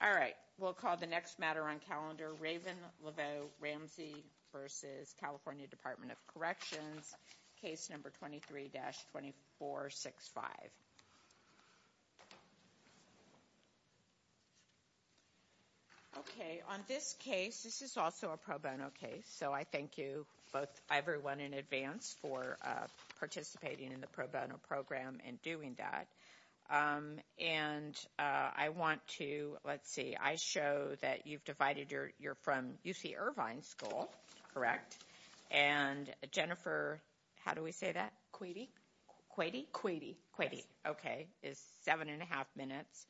All right, we'll call the next matter on calendar, Raven Laveau-Ramsey v. California Department of Corrections, case number 23-2465. Okay, on this case, this is also a pro bono case, so I thank you, both everyone in advance, for participating in the pro bono program and doing that. And I want to, let's see, I show that you've divided your, you're from UC Irvine School, correct? And Jennifer, how do we say that? Quady? Quady? Quady. Quady. Okay, is seven and a half minutes.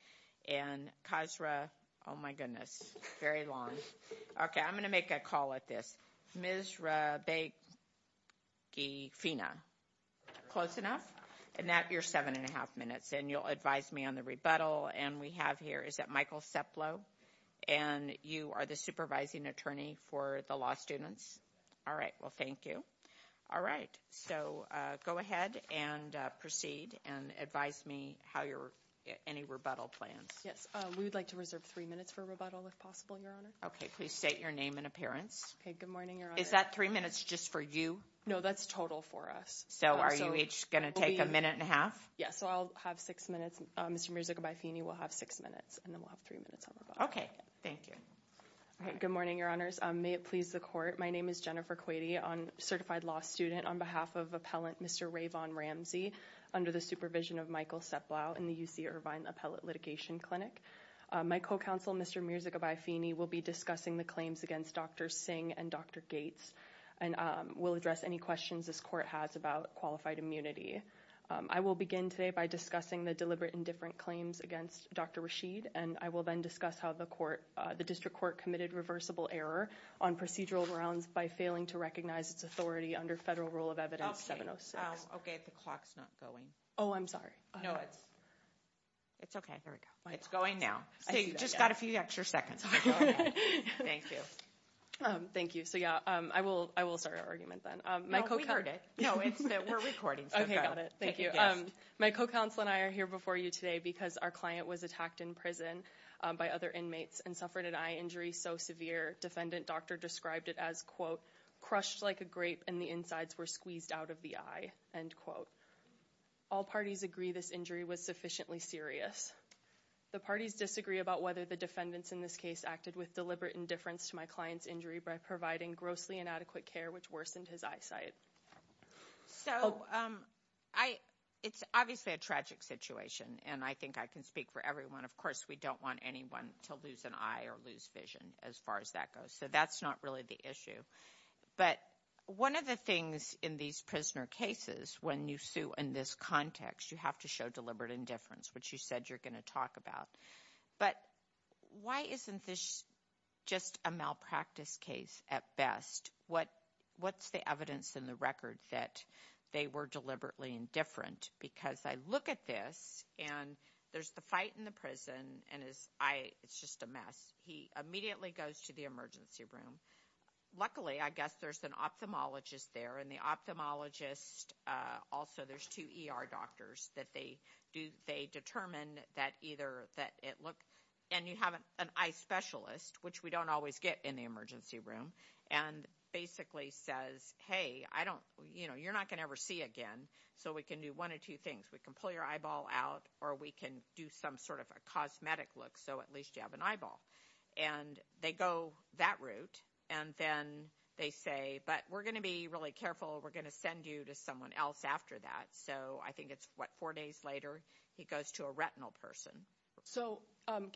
And Khazra, oh my goodness, very long. Okay, I'm going to make a call at this. Ms. Rabagifina. Close enough? And that, you're seven and a half minutes. And you'll advise me on the rebuttal, and we have here, is that Michael Seplow? And you are the supervising attorney for the law students? All right, well, thank you. All right, so go ahead and proceed and advise me how your, any rebuttal plans. Yes, we would like to reserve three minutes for rebuttal, if possible, Your Honor. Okay, please state your name and appearance. Okay, good morning, Your Honor. Is that three minutes just for you? No, that's total for us. So are you each going to take a minute and a half? Yes, so I'll have six minutes. Mr. Mirzagibayefini will have six minutes, and then we'll have three minutes on rebuttal. Okay, thank you. All right, good morning, Your Honors. May it please the Court, my name is Jennifer Quady, certified law student on behalf of Appellant Mr. Rayvon Ramsey, under the supervision of Michael Seplow in the UC Irvine Appellate Litigation Clinic. My co-counsel, Mr. Mirzagibayefini, will be discussing the claims against Dr. Singh and Dr. Gates, and will address any questions this Court has about qualified immunity. I will begin today by discussing the deliberate and different claims against Dr. Rashid, and I will then discuss how the District Court committed reversible error on procedural grounds by failing to recognize its authority under Federal Rule of Evidence 706. Okay, the clock's not going. Oh, I'm sorry. No, it's okay. There we go. It's going now. See, you just got a few extra seconds. Thank you. Thank you. So yeah, I will start our argument then. No, we heard it. No, we're recording, so go ahead. Okay, got it. Thank you. My co-counsel and I are here before you today because our client was attacked in prison by other inmates and suffered an eye injury so severe, defendant doctor described it as, quote, all parties agree this injury was sufficiently serious. The parties disagree about whether the defendants in this case acted with deliberate indifference to my client's injury by providing grossly inadequate care, which worsened his eyesight. So it's obviously a tragic situation, and I think I can speak for everyone. Of course, we don't want anyone to lose an eye or lose vision as far as that goes, so that's not really the issue. But one of the things in these prisoner cases when you sue in this context, you have to show deliberate indifference, which you said you're going to talk about. But why isn't this just a malpractice case at best? What's the evidence in the record that they were deliberately indifferent? Because I look at this, and there's the fight in the prison, and it's just a mess. He immediately goes to the emergency room. Luckily, I guess there's an ophthalmologist there, and the ophthalmologist also, there's two ER doctors that they determine that either that it look, and you have an eye specialist, which we don't always get in the emergency room, and basically says, hey, you're not going to ever see again, so we can do one of two things. We can pull your eyeball out, or we can do some sort of a cosmetic look so at least you have an eyeball. And they go that route, and then they say, but we're going to be really careful. We're going to send you to someone else after that. So I think it's, what, four days later, he goes to a retinal person. So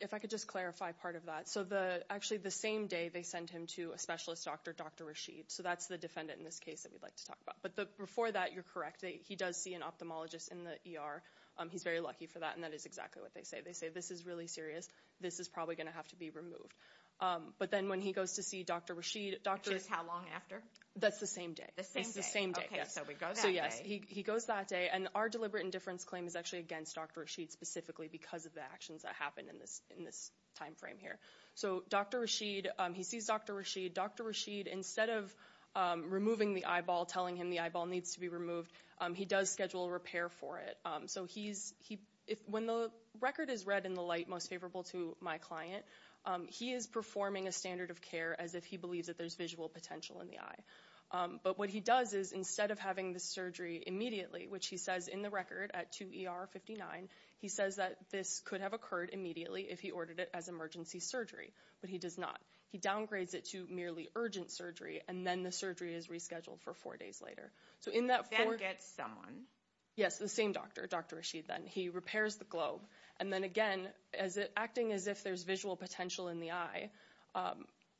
if I could just clarify part of that. So actually the same day they send him to a specialist doctor, Dr. Rashid, so that's the defendant in this case that we'd like to talk about. But before that, you're correct, he does see an ophthalmologist in the ER. He's very lucky for that, and that is exactly what they say. They say, this is really serious. This is probably going to have to be removed. But then when he goes to see Dr. Rashid. Which is how long after? That's the same day. It's the same day. Okay, so he goes that day. So yes, he goes that day. And our deliberate indifference claim is actually against Dr. Rashid specifically because of the actions that happened in this time frame here. So Dr. Rashid, he sees Dr. Rashid. Dr. Rashid, instead of removing the eyeball, telling him the eyeball needs to be removed, he does schedule a repair for it. When the record is read in the light most favorable to my client, he is performing a standard of care as if he believes that there's visual potential in the eye. But what he does is, instead of having the surgery immediately, which he says in the record at 2 ER 59, he says that this could have occurred immediately if he ordered it as emergency surgery. But he does not. He downgrades it to merely urgent surgery, and then the surgery is rescheduled for four days later. Then gets someone. Yes, the same doctor, Dr. Rashid, then. He repairs the globe. And then again, acting as if there's visual potential in the eye,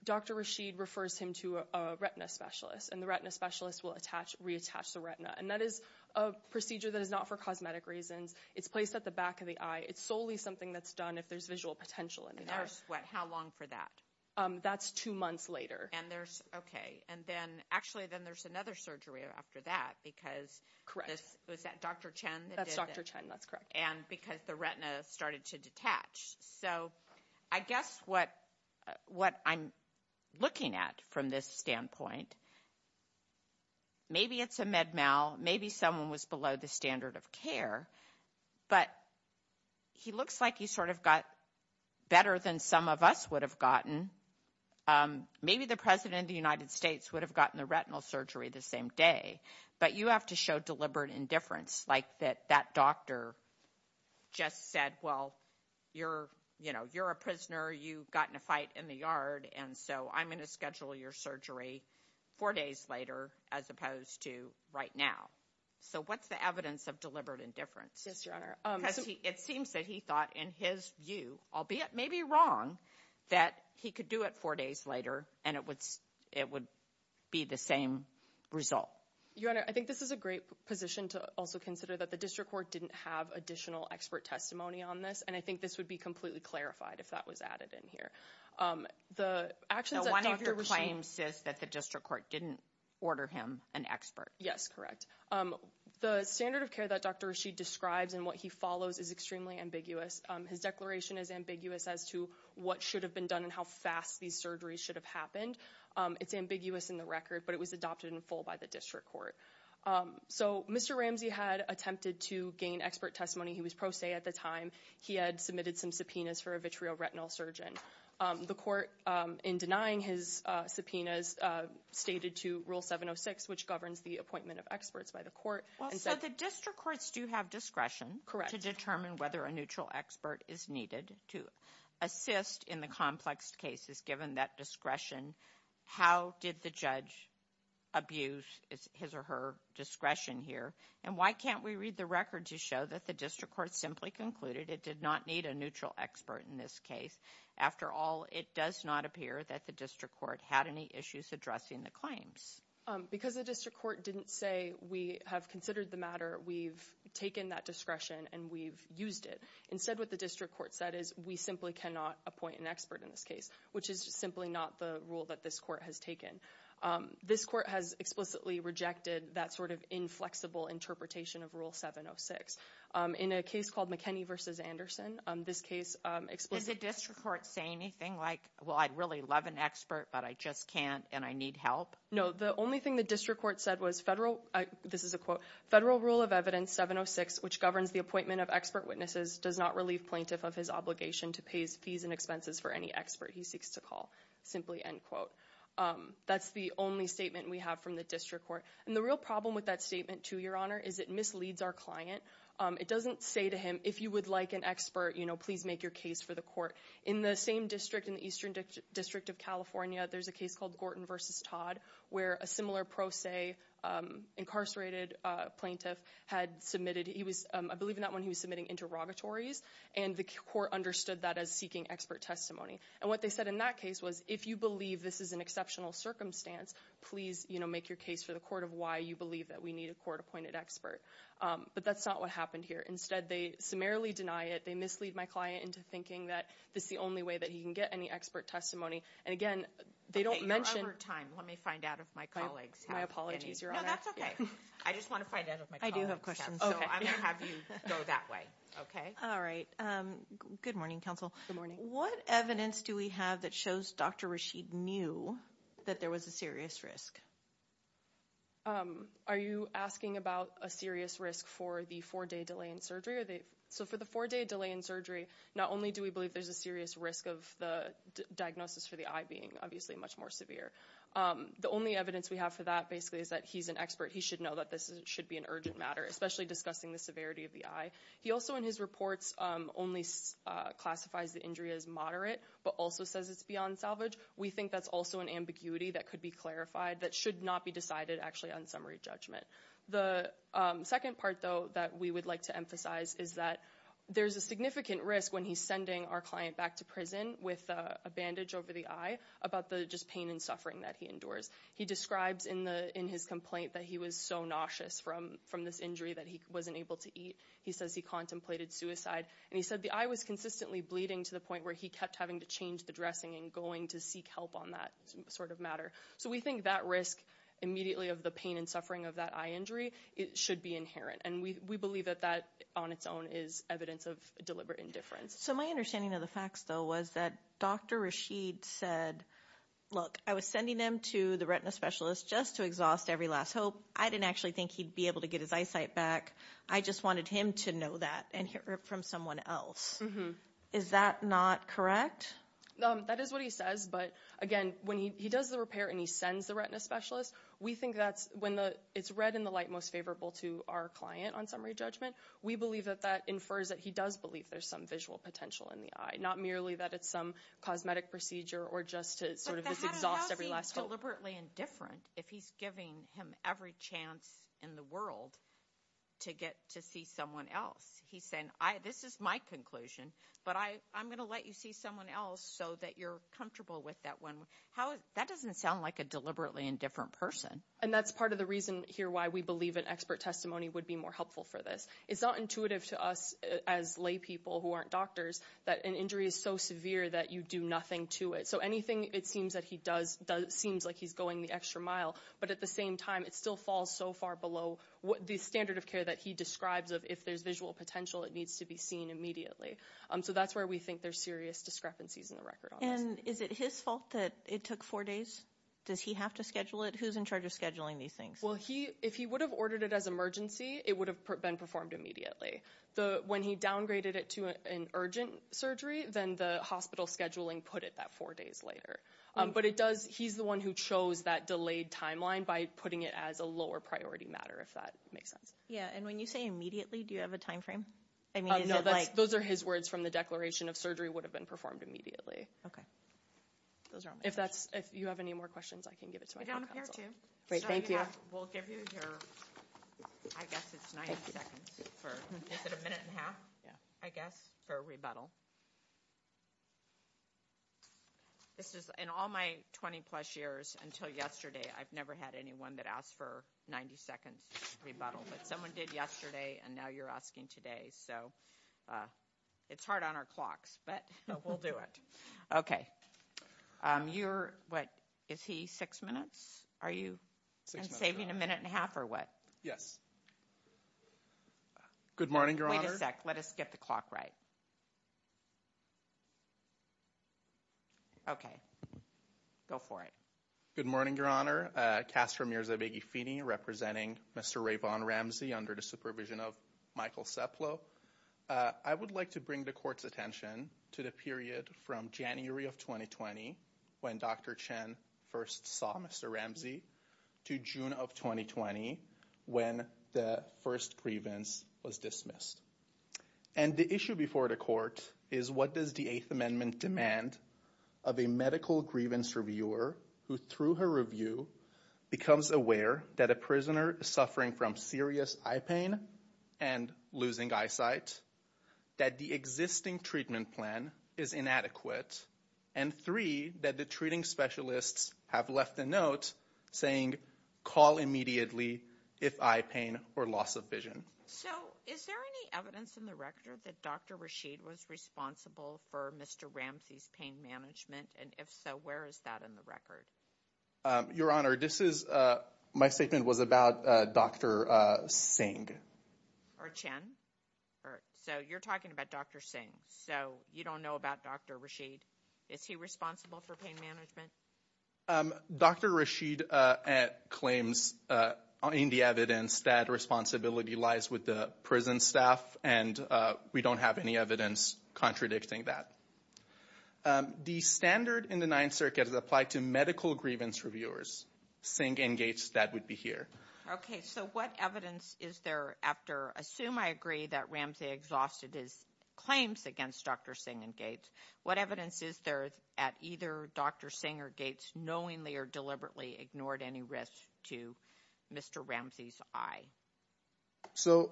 Dr. Rashid refers him to a retina specialist, and the retina specialist will reattach the retina. And that is a procedure that is not for cosmetic reasons. It's placed at the back of the eye. It's solely something that's done if there's visual potential in the eye. And that's how long for that? That's two months later. And there's, okay. And then, actually, then there's another surgery after that because. Was that Dr. Chen? That's Dr. Chen. That's correct. And because the retina started to detach. So I guess what I'm looking at from this standpoint, maybe it's a med mal. Maybe someone was below the standard of care. But he looks like he sort of got better than some of us would have gotten. Maybe the President of the United States would have gotten the retinal surgery the same day. But you have to show deliberate indifference, like that doctor just said, well, you're a prisoner. You got in a fight in the yard, and so I'm going to schedule your surgery four days later as opposed to right now. So what's the evidence of deliberate indifference? Yes, Your Honor. Because it seems that he thought, in his view, albeit maybe wrong, that he could do it four days later, and it would be the same result. Your Honor, I think this is a great position to also consider that the district court didn't have additional expert testimony on this, and I think this would be completely clarified if that was added in here. One of your claims says that the district court didn't order him an expert. Yes, correct. The standard of care that Dr. Rashid describes and what he follows is extremely ambiguous. His declaration is ambiguous as to what should have been done and how fast these surgeries should have happened. It's ambiguous in the record, but it was adopted in full by the district court. So Mr. Ramsey had attempted to gain expert testimony. He was pro se at the time. He had submitted some subpoenas for a vitreo retinal surgeon. The court, in denying his subpoenas, stated to Rule 706, which governs the appointment of experts by the court. So the district courts do have discretion to determine whether a neutral expert is needed to assist in the complex cases. Given that discretion, how did the judge abuse his or her discretion here? And why can't we read the record to show that the district court simply concluded it did not need a neutral expert in this case? After all, it does not appear that the district court had any issues addressing the claims. Because the district court didn't say we have considered the matter, we've taken that discretion, and we've used it. Instead, what the district court said is, we simply cannot appoint an expert in this case, which is simply not the rule that this court has taken. This court has explicitly rejected that sort of inflexible interpretation of Rule 706. In a case called McKinney v. Anderson, this case explicitly— Does the district court say anything like, well, I'd really love an expert, but I just can't, and I need help? No, the only thing the district court said was federal—this is a quote— Federal Rule of Evidence 706, which governs the appointment of expert witnesses, does not relieve plaintiff of his obligation to pay fees and expenses for any expert he seeks to call. Simply end quote. That's the only statement we have from the district court. And the real problem with that statement, too, Your Honor, is it misleads our client. It doesn't say to him, if you would like an expert, please make your case for the court. In the same district, in the Eastern District of California, there's a case called Gorton v. Todd, where a similar pro se incarcerated plaintiff had submitted— I believe in that one he was submitting interrogatories, and the court understood that as seeking expert testimony. And what they said in that case was, if you believe this is an exceptional circumstance, please make your case for the court of why you believe that we need a court-appointed expert. But that's not what happened here. Instead, they summarily deny it. They mislead my client into thinking that this is the only way that he can get any expert testimony. And again, they don't mention— Let me find out if my colleagues have any. No, that's okay. I just want to find out if my colleagues have any. I do have questions, so I'm going to have you go that way. All right. Good morning, counsel. Good morning. What evidence do we have that shows Dr. Rashid knew that there was a serious risk? Are you asking about a serious risk for the four-day delay in surgery? So for the four-day delay in surgery, not only do we believe there's a serious risk of the diagnosis for the eye being, obviously, much more severe. The only evidence we have for that, basically, is that he's an expert. He should know that this should be an urgent matter, especially discussing the severity of the eye. He also, in his reports, only classifies the injury as moderate, but also says it's beyond salvage. We think that's also an ambiguity that could be clarified that should not be decided, actually, on summary judgment. The second part, though, that we would like to emphasize is that there's a significant risk when he's sending our client back to prison with a bandage over the eye about the just pain and suffering that he endures. He describes in his complaint that he was so nauseous from this injury that he wasn't able to eat. He says he contemplated suicide. And he said the eye was consistently bleeding to the point where he kept having to change the dressing and going to seek help on that sort of matter. So we think that risk immediately of the pain and suffering of that eye injury should be inherent. And we believe that that, on its own, is evidence of deliberate indifference. So my understanding of the facts, though, was that Dr. Rashid said, look, I was sending him to the retina specialist just to exhaust every last hope. I didn't actually think he'd be able to get his eyesight back. I just wanted him to know that and hear it from someone else. Is that not correct? That is what he says. But, again, when he does the repair and he sends the retina specialist, we think that's when it's red in the light most favorable to our client on summary judgment. We believe that that infers that he does believe there's some visual potential in the eye, not merely that it's some cosmetic procedure or just to sort of just exhaust every last hope. But that doesn't seem deliberately indifferent if he's giving him every chance in the world to get to see someone else. He's saying, this is my conclusion, but I'm going to let you see someone else so that you're comfortable with that one. That doesn't sound like a deliberately indifferent person. And that's part of the reason here why we believe an expert testimony would be more helpful for this. It's not intuitive to us as lay people who aren't doctors that an injury is so severe that you do nothing to it. So anything it seems that he does seems like he's going the extra mile. But at the same time, it still falls so far below the standard of care that he describes of if there's visual potential, it needs to be seen immediately. So that's where we think there's serious discrepancies in the record. And is it his fault that it took four days? Does he have to schedule it? Who's in charge of scheduling these things? Well, if he would have ordered it as emergency, it would have been performed immediately. When he downgraded it to an urgent surgery, then the hospital scheduling put it that four days later. But he's the one who chose that delayed timeline by putting it as a lower priority matter, if that makes sense. Yeah, and when you say immediately, do you have a time frame? No, those are his words from the declaration of surgery would have been performed immediately. Okay. If you have any more questions, I can give it to my counsel. Great, thank you. We'll give you your, I guess it's 90 seconds for, is it a minute and a half? Yeah. I guess, for rebuttal. This is, in all my 20 plus years, until yesterday, I've never had anyone that asked for 90 seconds for rebuttal. But someone did yesterday, and now you're asking today. So it's hard on our clocks, but we'll do it. Okay. You're, what, is he six minutes? Are you saving a minute and a half or what? Yes. Good morning, Your Honor. Wait a sec. Let us get the clock right. Okay. Go for it. Good morning, Your Honor. Castro Mirza Beghefini, representing Mr. Rayvon Ramsey under the supervision of Michael Seplow. I would like to bring the court's attention to the period from January of 2020, when Dr. Chen first saw Mr. Ramsey, to June of 2020, when the first grievance was dismissed. And the issue before the court is what does the Eighth Amendment demand of a medical grievance reviewer who, through her review, becomes aware that a prisoner is suffering from serious eye pain and losing eyesight, that the existing treatment plan is inadequate, and three, that the treating specialists have left a note saying, call immediately if eye pain or loss of vision. So is there any evidence in the record that Dr. Rashid was responsible for Mr. Ramsey's pain management? And if so, where is that in the record? Your Honor, this is, my statement was about Dr. Singh. Or Chen. So you're talking about Dr. Singh. So you don't know about Dr. Rashid. Is he responsible for pain management? Dr. Rashid claims in the evidence that responsibility lies with the prison staff, and we don't have any evidence contradicting that. The standard in the Ninth Circuit is applied to medical grievance reviewers. Singh and Gates, that would be here. Okay. So what evidence is there after, assume I agree that Ramsey exhausted his claims against Dr. Singh and Gates. What evidence is there at either Dr. Singh or Gates, knowing they are deliberately ignored any risk to Mr. Ramsey's eye? So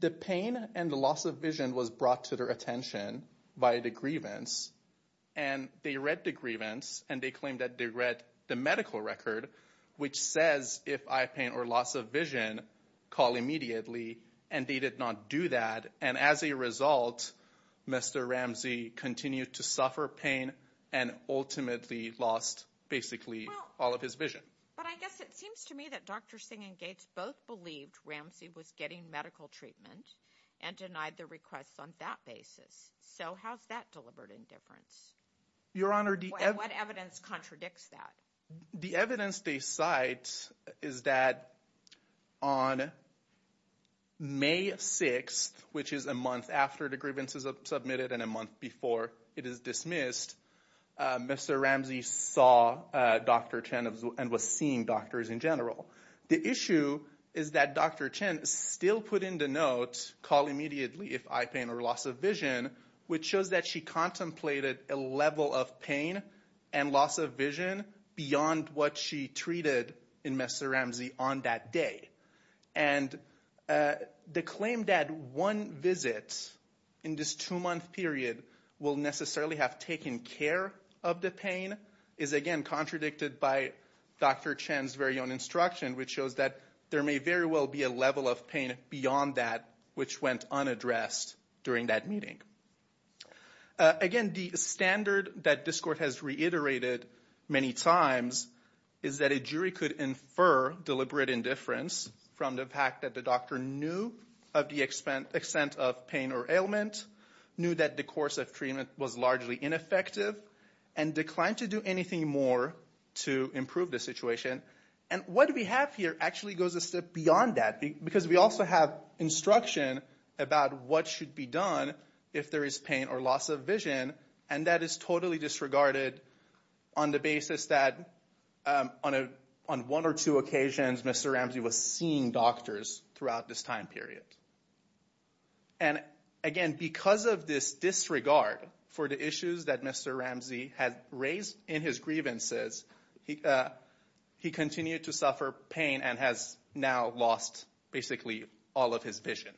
the pain and the loss of vision was brought to their attention by the grievance. And they read the grievance, and they claimed that they read the medical record, which says if eye pain or loss of vision, call immediately. And they did not do that. And as a result, Mr. Ramsey continued to suffer pain and ultimately lost basically all of his vision. But I guess it seems to me that Dr. Singh and Gates both believed Ramsey was getting medical treatment and denied the request on that basis. So how's that deliberate indifference? Your Honor, the evidence. What evidence contradicts that? The evidence they cite is that on May 6th, which is a month after the grievance is submitted and a month before it is dismissed, Mr. Ramsey saw Dr. Chen and was seeing doctors in general. The issue is that Dr. Chen still put in the note, call immediately if eye pain or loss of vision, which shows that she contemplated a level of pain and loss of vision beyond what she treated in Mr. Ramsey on that day. And the claim that one visit in this two-month period will necessarily have taken care of the pain is, again, contradicted by Dr. Chen's very own instruction, which shows that there may very well be a level of pain beyond that, which went unaddressed during that meeting. Again, the standard that this Court has reiterated many times is that a jury could infer deliberate indifference from the fact that the doctor knew of the extent of pain or ailment, knew that the course of treatment was largely ineffective, and declined to do anything more to improve the situation. And what we have here actually goes a step beyond that, because we also have instruction about what should be done if there is pain or loss of vision, and that is totally disregarded on the basis that on one or two occasions, Mr. Ramsey was seeing doctors throughout this time period. And again, because of this disregard for the issues that Mr. Ramsey had raised in his grievances, he continued to suffer pain and has now lost basically all of his vision.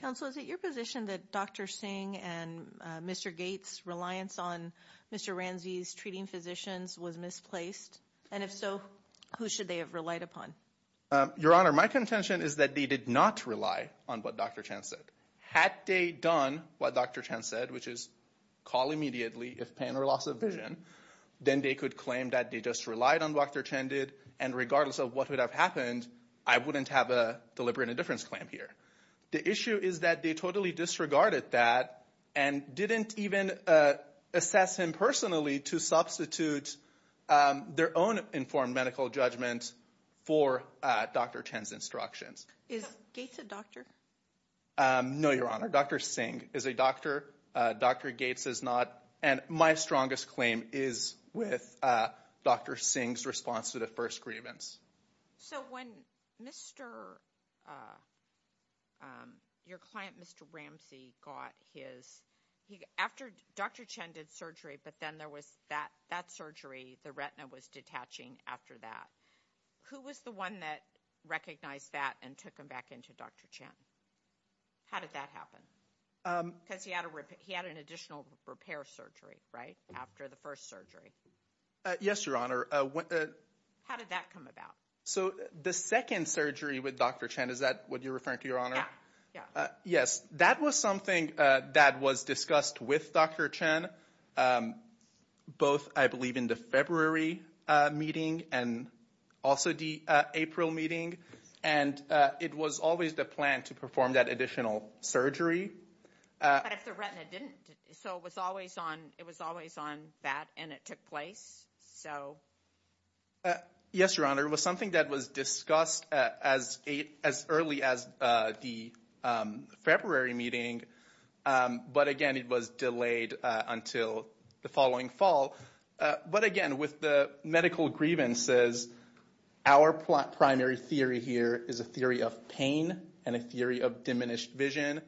Counsel, is it your position that Dr. Singh and Mr. Gates' reliance on Mr. Ramsey's treating physicians was misplaced? And if so, who should they have relied upon? Your Honor, my contention is that they did not rely on what Dr. Chan said. Had they done what Dr. Chan said, which is call immediately if pain or loss of vision, then they could claim that they just relied on what Dr. Chan did, and regardless of what would have happened, I wouldn't have a deliberate indifference claim here. The issue is that they totally disregarded that and didn't even assess him personally to substitute their own informed medical judgment for Dr. Chan's instructions. Is Gates a doctor? No, Your Honor, Dr. Singh is a doctor. Dr. Gates is not. And my strongest claim is with Dr. Singh's response to the first grievance. So when Mr. – your client, Mr. Ramsey, got his – after Dr. Chan did surgery, but then there was that surgery, the retina was detaching after that. Who was the one that recognized that and took him back into Dr. Chan? How did that happen? Because he had an additional repair surgery, right, after the first surgery. Yes, Your Honor. How did that come about? So the second surgery with Dr. Chan, is that what you're referring to, Your Honor? Yeah, yeah. Yes, that was something that was discussed with Dr. Chan both, I believe, in the February meeting and also the April meeting, and it was always the plan to perform that additional surgery. But if the retina didn't – so it was always on that and it took place, so. Yes, Your Honor, it was something that was discussed as early as the February meeting, but again, it was delayed until the following fall. But again, with the medical grievances, our primary theory here is a theory of pain and a theory of diminished vision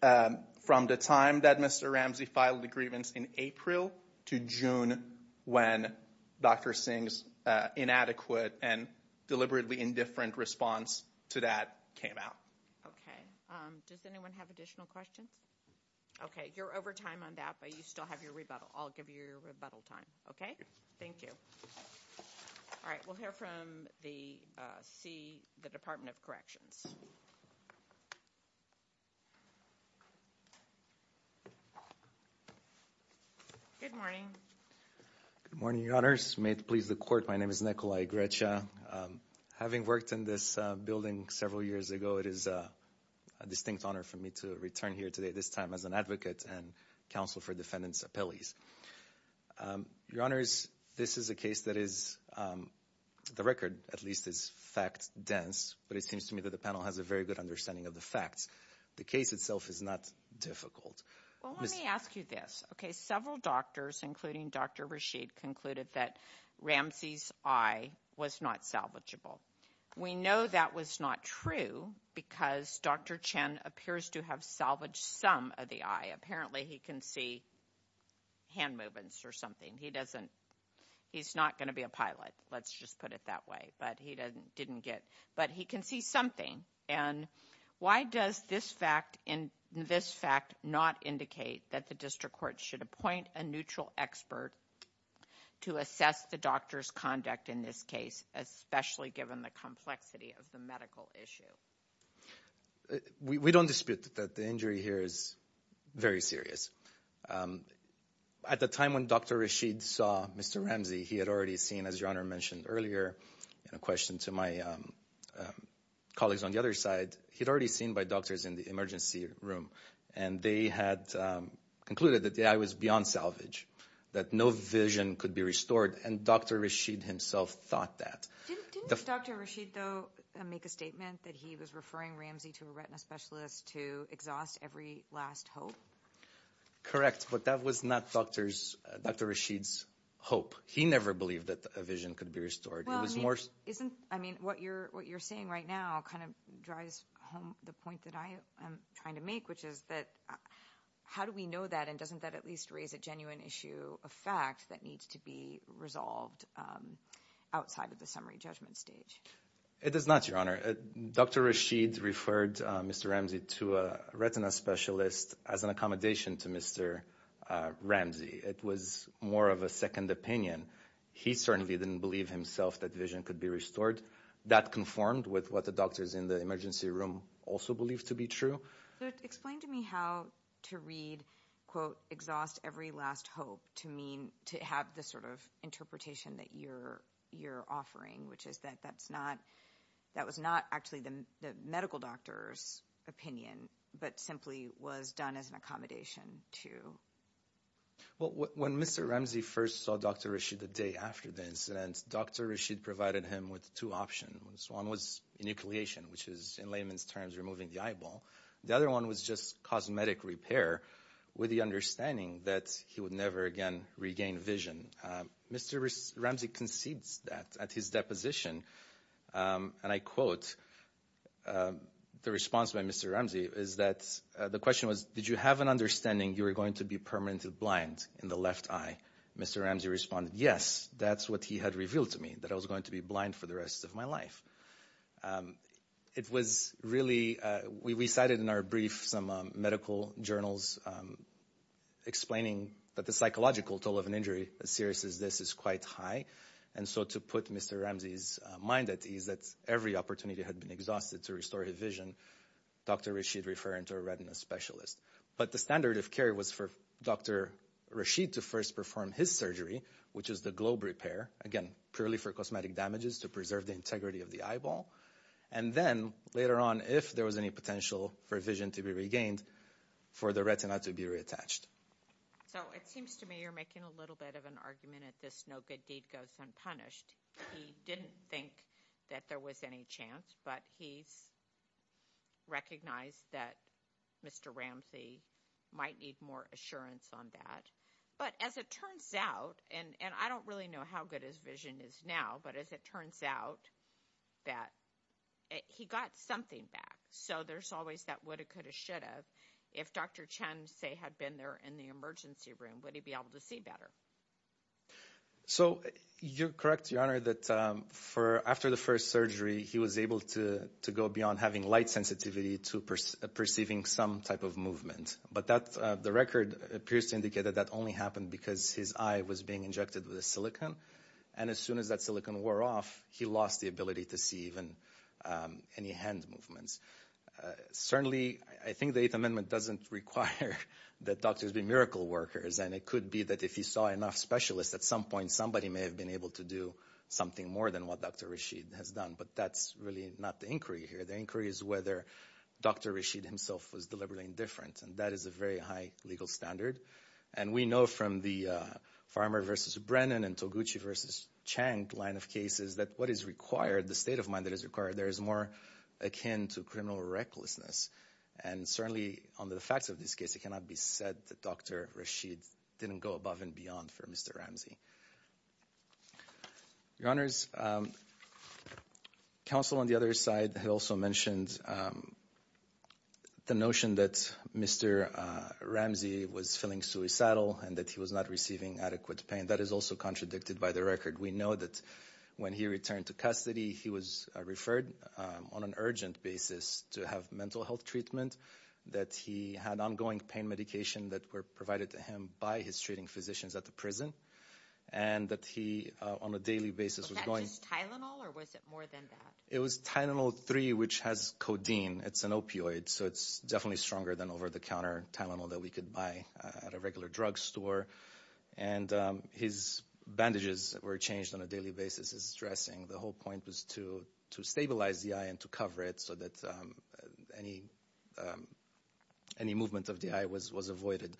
from the time that Mr. Ramsey filed the grievance in April to June when Dr. Singh's inadequate and deliberately indifferent response to that came out. Okay. Does anyone have additional questions? Okay, you're over time on that, but you still have your rebuttal. I'll give you your rebuttal time, okay? Thank you. All right, we'll hear from the Department of Corrections. Good morning. Good morning, Your Honors. May it please the Court, my name is Nikolai Grecha. Having worked in this building several years ago, it is a distinct honor for me to return here today, this time as an advocate and counsel for defendants' appellees. Your Honors, this is a case that is, to the record at least, is fact-dense, but it seems to me that the panel has a very good understanding of the facts. The case itself is not difficult. Well, let me ask you this. Okay, several doctors, including Dr. Rashid, concluded that Ramsey's eye was not salvageable. We know that was not true because Dr. Chen appears to have salvaged some of the eye. Apparently, he can see hand movements or something. He doesn't. He's not going to be a pilot, let's just put it that way, but he didn't get. But he can see something. And why does this fact not indicate that the district court should appoint a neutral expert to assess the doctor's conduct in this case, especially given the complexity of the medical issue? We don't dispute that the injury here is very serious. At the time when Dr. Rashid saw Mr. Ramsey, he had already seen, as Your Honor mentioned earlier, in a question to my colleagues on the other side, he had already seen by doctors in the emergency room, and they had concluded that the eye was beyond salvage, that no vision could be restored, and Dr. Rashid himself thought that. Didn't Dr. Rashid, though, make a statement that he was referring Ramsey to a retina specialist to exhaust every last hope? Correct, but that was not Dr. Rashid's hope. He never believed that a vision could be restored. Well, I mean, what you're saying right now kind of drives home the point that I am trying to make, which is that how do we know that, and doesn't that at least raise a genuine issue, a fact that needs to be resolved outside of the summary judgment stage? It does not, Your Honor. Dr. Rashid referred Mr. Ramsey to a retina specialist as an accommodation to Mr. Ramsey. It was more of a second opinion. He certainly didn't believe himself that vision could be restored. That conformed with what the doctors in the emergency room also believed to be true. Explain to me how to read, quote, exhaust every last hope to have the sort of interpretation that you're offering, which is that that was not actually the medical doctor's opinion but simply was done as an accommodation to. Well, when Mr. Ramsey first saw Dr. Rashid the day after the incident, Dr. Rashid provided him with two options. One was inucleation, which is in layman's terms removing the eyeball. The other one was just cosmetic repair with the understanding that he would never again regain vision. Mr. Ramsey concedes that at his deposition. And I quote the response by Mr. Ramsey is that the question was, did you have an understanding you were going to be permanently blind in the left eye? Mr. Ramsey responded, yes, that's what he had revealed to me, that I was going to be blind for the rest of my life. It was really, we cited in our brief some medical journals explaining that the psychological toll of an injury as serious as this is quite high. And so to put Mr. Ramsey's mind at ease that every opportunity had been exhausted to restore his vision, Dr. Rashid referring to a retina specialist. But the standard of care was for Dr. Rashid to first perform his surgery, which is the globe repair, again, purely for cosmetic damages to preserve the integrity of the eyeball. And then later on, if there was any potential for vision to be regained, for the retina to be reattached. So it seems to me you're making a little bit of an argument at this no good deed goes unpunished. He didn't think that there was any chance, but he's recognized that Mr. Ramsey might need more assurance on that. But as it turns out, and I don't really know how good his vision is now, but as it turns out that he got something back. So there's always that woulda, coulda, shoulda. If Dr. Chen, say, had been there in the emergency room, would he be able to see better? So you're correct, Your Honor, that after the first surgery, he was able to go beyond having light sensitivity to perceiving some type of movement. But the record appears to indicate that that only happened because his eye was being injected with a silicon. And as soon as that silicon wore off, he lost the ability to see even any hand movements. Certainly, I think the Eighth Amendment doesn't require that doctors be miracle workers. And it could be that if you saw enough specialists, at some point somebody may have been able to do something more than what Dr. Rashid has done. But that's really not the inquiry here. The inquiry is whether Dr. Rashid himself was deliberately indifferent. And that is a very high legal standard. And we know from the Farmer v. Brennan and Toguchi v. Chang line of cases that what is required, the state of mind that is required, there is more akin to criminal recklessness. And certainly, on the facts of this case, it cannot be said that Dr. Rashid didn't go above and beyond for Mr. Ramsey. Your Honors, counsel on the other side had also mentioned the notion that Mr. Ramsey was feeling suicidal and that he was not receiving adequate pain. That is also contradicted by the record. We know that when he returned to custody, he was referred on an urgent basis to have mental health treatment. That he had ongoing pain medication that were provided to him by his treating physicians at the prison. And that he, on a daily basis, was going... Was that just Tylenol or was it more than that? It was Tylenol-3, which has codeine. It's an opioid. So it's definitely stronger than over-the-counter Tylenol that we could buy at a regular drugstore. And his bandages were changed on a daily basis, his dressing. The whole point was to stabilize the eye and to cover it so that any movement of the eye was avoided.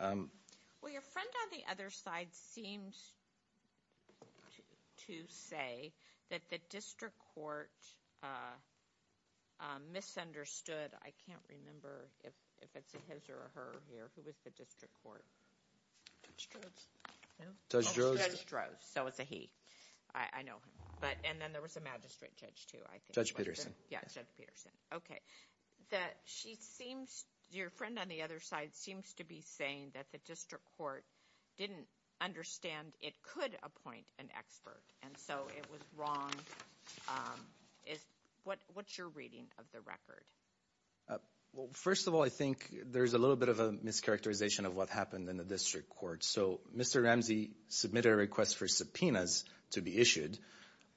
Well, your friend on the other side seems to say that the district court misunderstood... I can't remember if it's a his or a her here. Who was the district court? Judge Drozd. Judge Drozd. So it's a he. I know him. And then there was a magistrate judge too, I think. Judge Peterson. Yeah, Judge Peterson. Okay. That she seems... Your friend on the other side seems to be saying that the district court didn't understand it could appoint an expert. And so it was wrong. What's your reading of the record? Well, first of all, I think there's a little bit of a mischaracterization of what happened in the district court. So Mr. Ramsey submitted a request for subpoenas to be issued,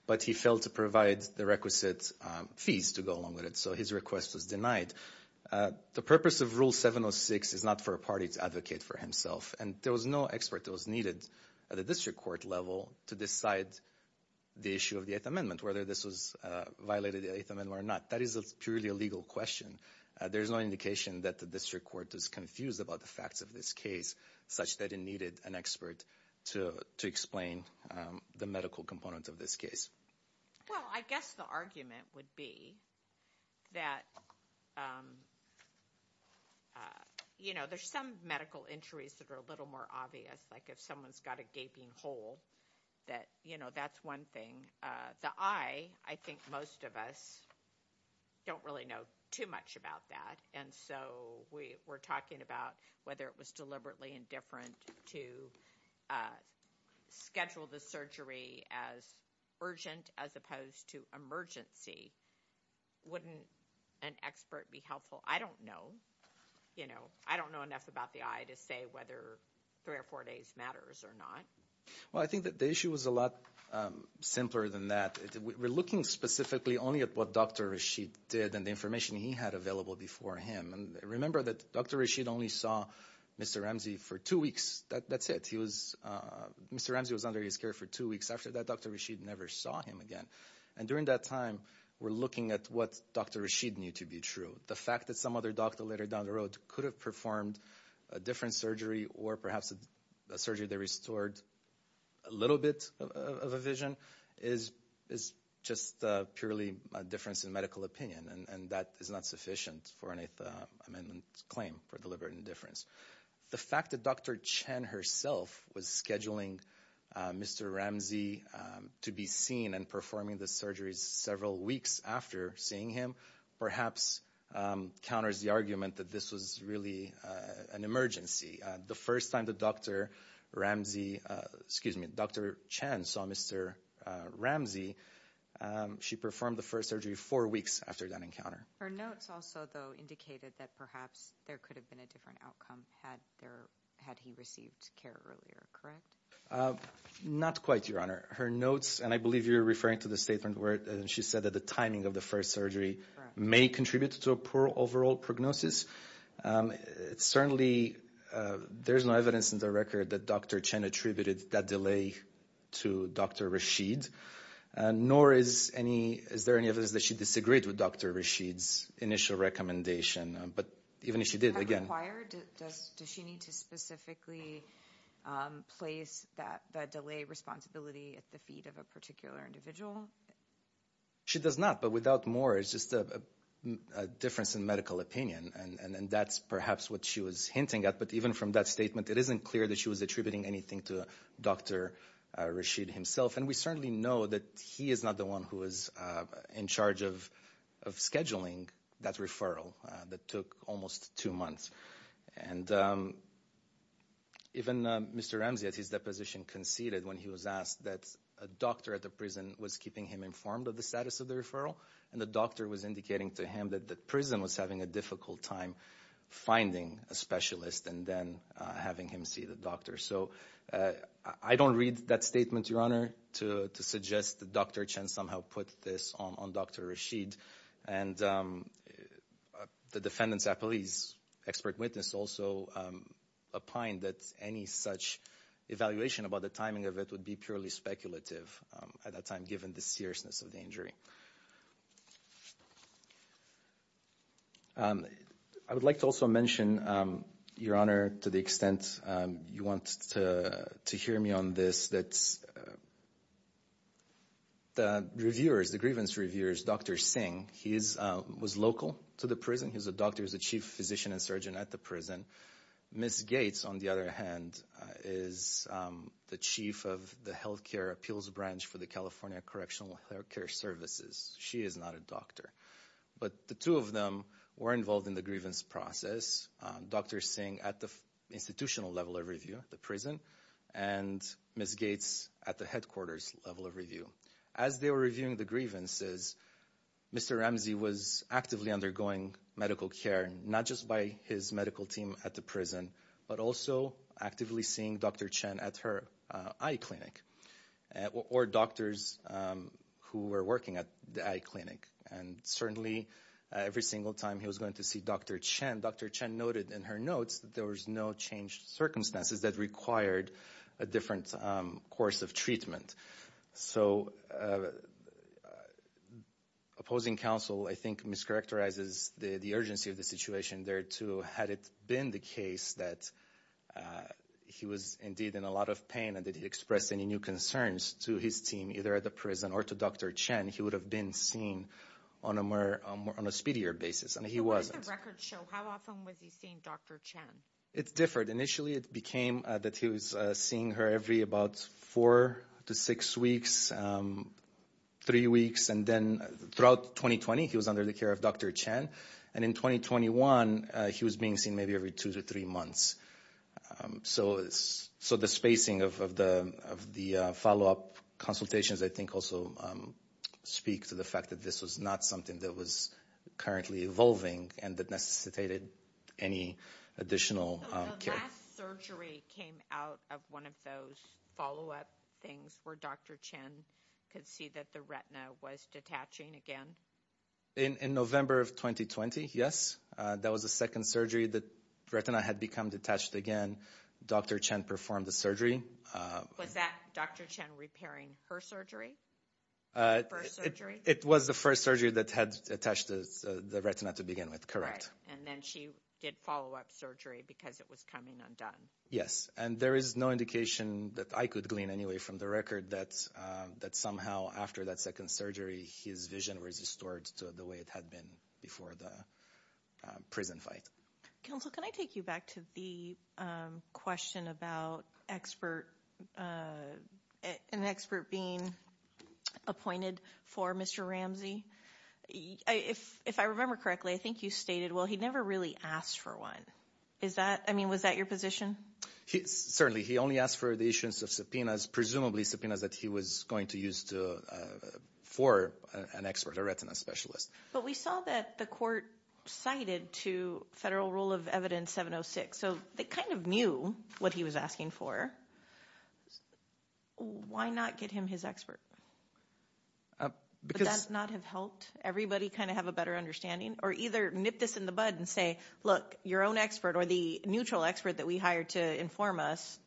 but he failed to provide the requisite fees to go along with it. So his request was denied. The purpose of Rule 706 is not for a party to advocate for himself. And there was no expert that was needed at the district court level to decide the issue of the Eighth Amendment, whether this violated the Eighth Amendment or not. That is a purely legal question. There's no indication that the district court is confused about the facts of this case, such that it needed an expert to explain the medical components of this case. Well, I guess the argument would be that, you know, there's some medical injuries that are a little more obvious, like if someone's got a gaping hole, that, you know, that's one thing. The eye, I think most of us don't really know too much about that. And so we're talking about whether it was deliberately indifferent to schedule the surgery as urgent as opposed to emergency. Wouldn't an expert be helpful? I don't know. You know, I don't know enough about the eye to say whether three or four days matters or not. Well, I think that the issue is a lot simpler than that. We're looking specifically only at what Dr. Rashid did and the information he had available before him. And remember that Dr. Rashid only saw Mr. Ramsey for two weeks. That's it. Mr. Ramsey was under his care for two weeks. After that, Dr. Rashid never saw him again. And during that time, we're looking at what Dr. Rashid knew to be true. The fact that some other doctor later down the road could have performed a different surgery or perhaps a surgery that restored a little bit of a vision is just purely a difference in medical opinion. And that is not sufficient for a claim for deliberate indifference. The fact that Dr. Chen herself was scheduling Mr. Ramsey to be seen and performing the surgeries several weeks after seeing him perhaps counters the argument that this was really an emergency. The first time that Dr. Ramsey, excuse me, Dr. Chen saw Mr. Ramsey, she performed the first surgery four weeks after that encounter. Her notes also, though, indicated that perhaps there could have been a different outcome had he received care earlier. Correct? Not quite, Your Honor. Her notes, and I believe you're referring to the statement where she said that the timing of the first surgery may contribute to a poor overall prognosis. Certainly, there's no evidence in the record that Dr. Chen attributed that delay to Dr. Rashid. Nor is there any evidence that she disagreed with Dr. Rashid's initial recommendation. Does that require? Does she need to specifically place that delay responsibility at the feet of a particular individual? She does not, but without more, it's just a difference in medical opinion. And that's perhaps what she was hinting at. But even from that statement, it isn't clear that she was attributing anything to Dr. Rashid himself. And we certainly know that he is not the one who was in charge of scheduling that referral that took almost two months. And even Mr. Ramsey, at his deposition, conceded when he was asked that a doctor at the prison was keeping him informed of the status of the referral, and the doctor was indicating to him that the prison was having a difficult time finding a specialist and then having him see the doctor. So I don't read that statement, Your Honor, to suggest that Dr. Chen somehow put this on Dr. Rashid. And the defendant's appellee's expert witness also opined that any such evaluation about the timing of it would be purely speculative at that time, given the seriousness of the injury. Thank you. I would like to also mention, Your Honor, to the extent you want to hear me on this, that the reviewers, the grievance reviewers, Dr. Singh, he was local to the prison. He was a doctor, he was a chief physician and surgeon at the prison. Ms. Gates, on the other hand, is the chief of the healthcare appeals branch for the California Correctional Healthcare Services. She is not a doctor. But the two of them were involved in the grievance process, Dr. Singh at the institutional level of review, the prison, and Ms. Gates at the headquarters level of review. As they were reviewing the grievances, Mr. Ramsey was actively undergoing medical care, not just by his medical team at the prison, but also actively seeing Dr. Chen at her eye clinic or doctors who were working at the eye clinic. And certainly every single time he was going to see Dr. Chen, Dr. Chen noted in her notes that there was no changed circumstances that required a different course of treatment. So opposing counsel, I think, mischaracterizes the urgency of the situation there, too. Had it been the case that he was indeed in a lot of pain and that he expressed any new concerns to his team, either at the prison or to Dr. Chen, he would have been seen on a speedier basis. And he wasn't. So what does the record show? How often was he seeing Dr. Chen? It differed. Initially, it became that he was seeing her every about four to six weeks, three weeks. And then throughout 2020, he was under the care of Dr. Chen. And in 2021, he was being seen maybe every two to three months. So the spacing of the follow-up consultations, I think, also speak to the fact that this was not something that was currently evolving and that necessitated any additional care. The last surgery came out of one of those follow-up things where Dr. Chen could see that the retina was detaching again? In November of 2020, yes. That was the second surgery that the retina had become detached again. Dr. Chen performed the surgery. Was that Dr. Chen repairing her surgery, her first surgery? It was the first surgery that had attached the retina to begin with, correct. And then she did follow-up surgery because it was coming undone. Yes. And there is no indication that I could glean anyway from the record that somehow after that second surgery, his vision was restored to the way it had been before the prison fight. Counsel, can I take you back to the question about an expert being appointed for Mr. Ramsey? If I remember correctly, I think you stated, well, he never really asked for one. I mean, was that your position? Certainly. He only asked for the issuance of subpoenas, presumably subpoenas that he was going to use for an expert, a retina specialist. But we saw that the court cited to Federal Rule of Evidence 706. So they kind of knew what he was asking for. Why not get him his expert? Would that not have helped? Everybody kind of have a better understanding or either nip this in the bud and say, look, your own expert or the neutral expert that we hired to inform us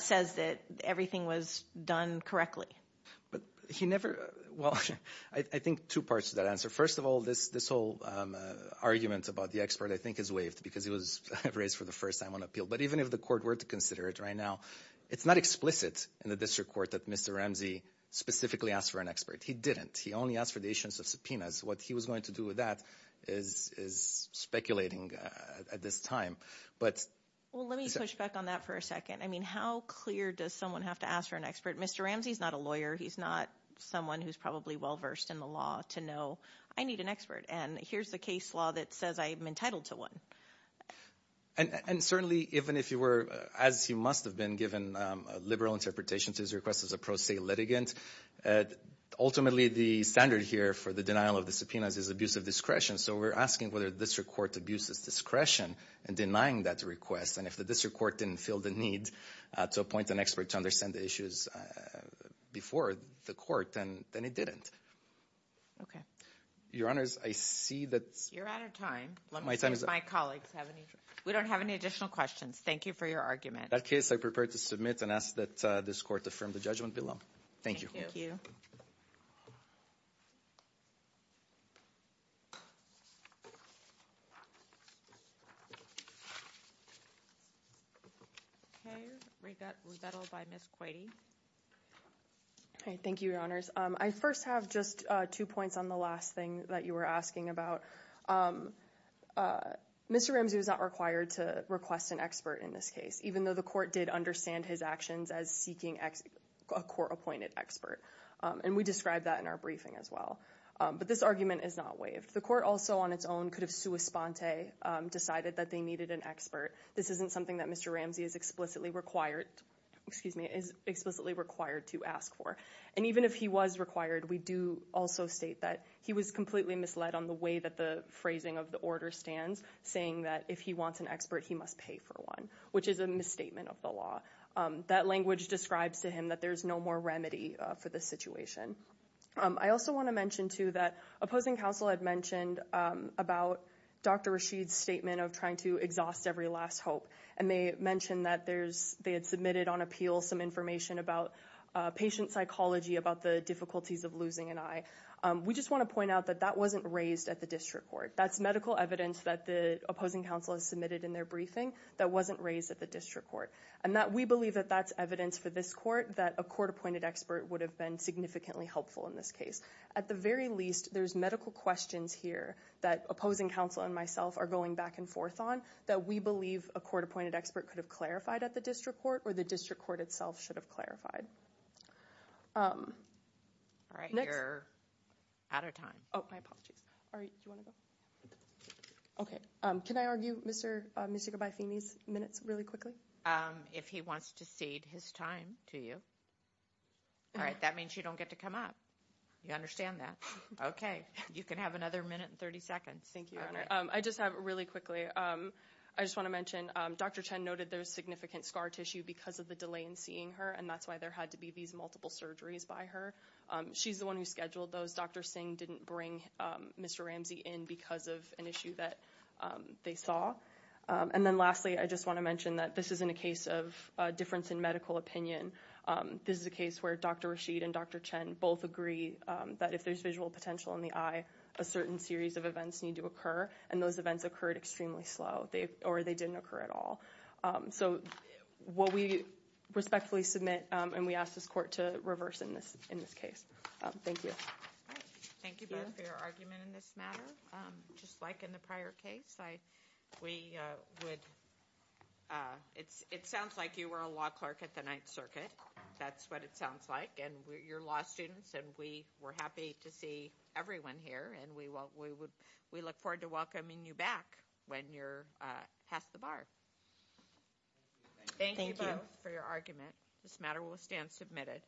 says that everything was done correctly. But he never. Well, I think two parts of that answer. First of all, this this whole argument about the expert, I think, is waived because it was raised for the first time on appeal. But even if the court were to consider it right now, it's not explicit in the district court that Mr. Ramsey specifically asked for an expert. He didn't. He only asked for the issuance of subpoenas. What he was going to do with that is is speculating at this time. But let me switch back on that for a second. I mean, how clear does someone have to ask for an expert? Mr. Ramsey is not a lawyer. He's not someone who's probably well versed in the law to know. I need an expert. And here's the case law that says I am entitled to one. And certainly, even if you were, as you must have been given a liberal interpretation to his request as a pro se litigant. Ultimately, the standard here for the denial of the subpoenas is abuse of discretion. So we're asking whether this court abuses discretion and denying that request. And if the district court didn't feel the need to appoint an expert to understand the issues before the court, then it didn't. OK. Your Honors, I see that. You're out of time. My time is up. My colleagues have any. We don't have any additional questions. Thank you for your argument. That case I prepared to submit and ask that this court affirm the judgment below. Thank you. OK. Rebuttal by Ms. Quadey. Thank you, Your Honors. I first have just two points on the last thing that you were asking about. Mr. Ramsey was not required to request an expert in this case, even though the court did understand his actions as seeking a court appointed expert. And we described that in our briefing as well. But this argument is not waived. The court also on its own could have sua sponte decided that they needed an expert. This isn't something that Mr. Ramsey is explicitly required. Excuse me, is explicitly required to ask for. And even if he was required, we do also state that he was completely misled on the way that the phrasing of the order stands, saying that if he wants an expert, he must pay for one, which is a misstatement of the law. That language describes to him that there is no more remedy for the situation. I also want to mention, too, that opposing counsel had mentioned about Dr. Rashid's statement of trying to exhaust every last hope. And they mentioned that there's they had submitted on appeal some information about patient psychology, about the difficulties of losing an eye. We just want to point out that that wasn't raised at the district court. That's medical evidence that the opposing counsel has submitted in their briefing that wasn't raised at the district court. And that we believe that that's evidence for this court that a court appointed expert would have been significantly helpful in this case. At the very least, there's medical questions here that opposing counsel and myself are going back and forth on that we believe a court appointed expert could have clarified at the district court or the district court itself should have clarified. All right. You're out of time. Oh, my apologies. All right. OK. Can I argue Mr. Michigan by Phoenix minutes really quickly? If he wants to cede his time to you. All right. That means you don't get to come up. You understand that. OK. You can have another minute and 30 seconds. Thank you. All right. I just have really quickly. I just want to mention Dr. Chen noted there's significant scar tissue because of the delay in seeing her. And that's why there had to be these multiple surgeries by her. She's the one who scheduled those. Dr. Singh didn't bring Mr. Ramsey in because of an issue that they saw. And then lastly, I just want to mention that this isn't a case of difference in medical opinion. This is a case where Dr. Rashid and Dr. Chen both agree that if there's visual potential in the eye, a certain series of events need to occur. And those events occurred extremely slow or they didn't occur at all. So what we respectfully submit and we ask this court to reverse in this in this case. Thank you. Thank you both for your argument in this matter. Just like in the prior case, we would. It's it sounds like you were a law clerk at the Ninth Circuit. That's what it sounds like. And you're law students. And we were happy to see everyone here. And we will we would we look forward to welcoming you back when you're past the bar. Thank you both for your argument. This matter will stand submitted.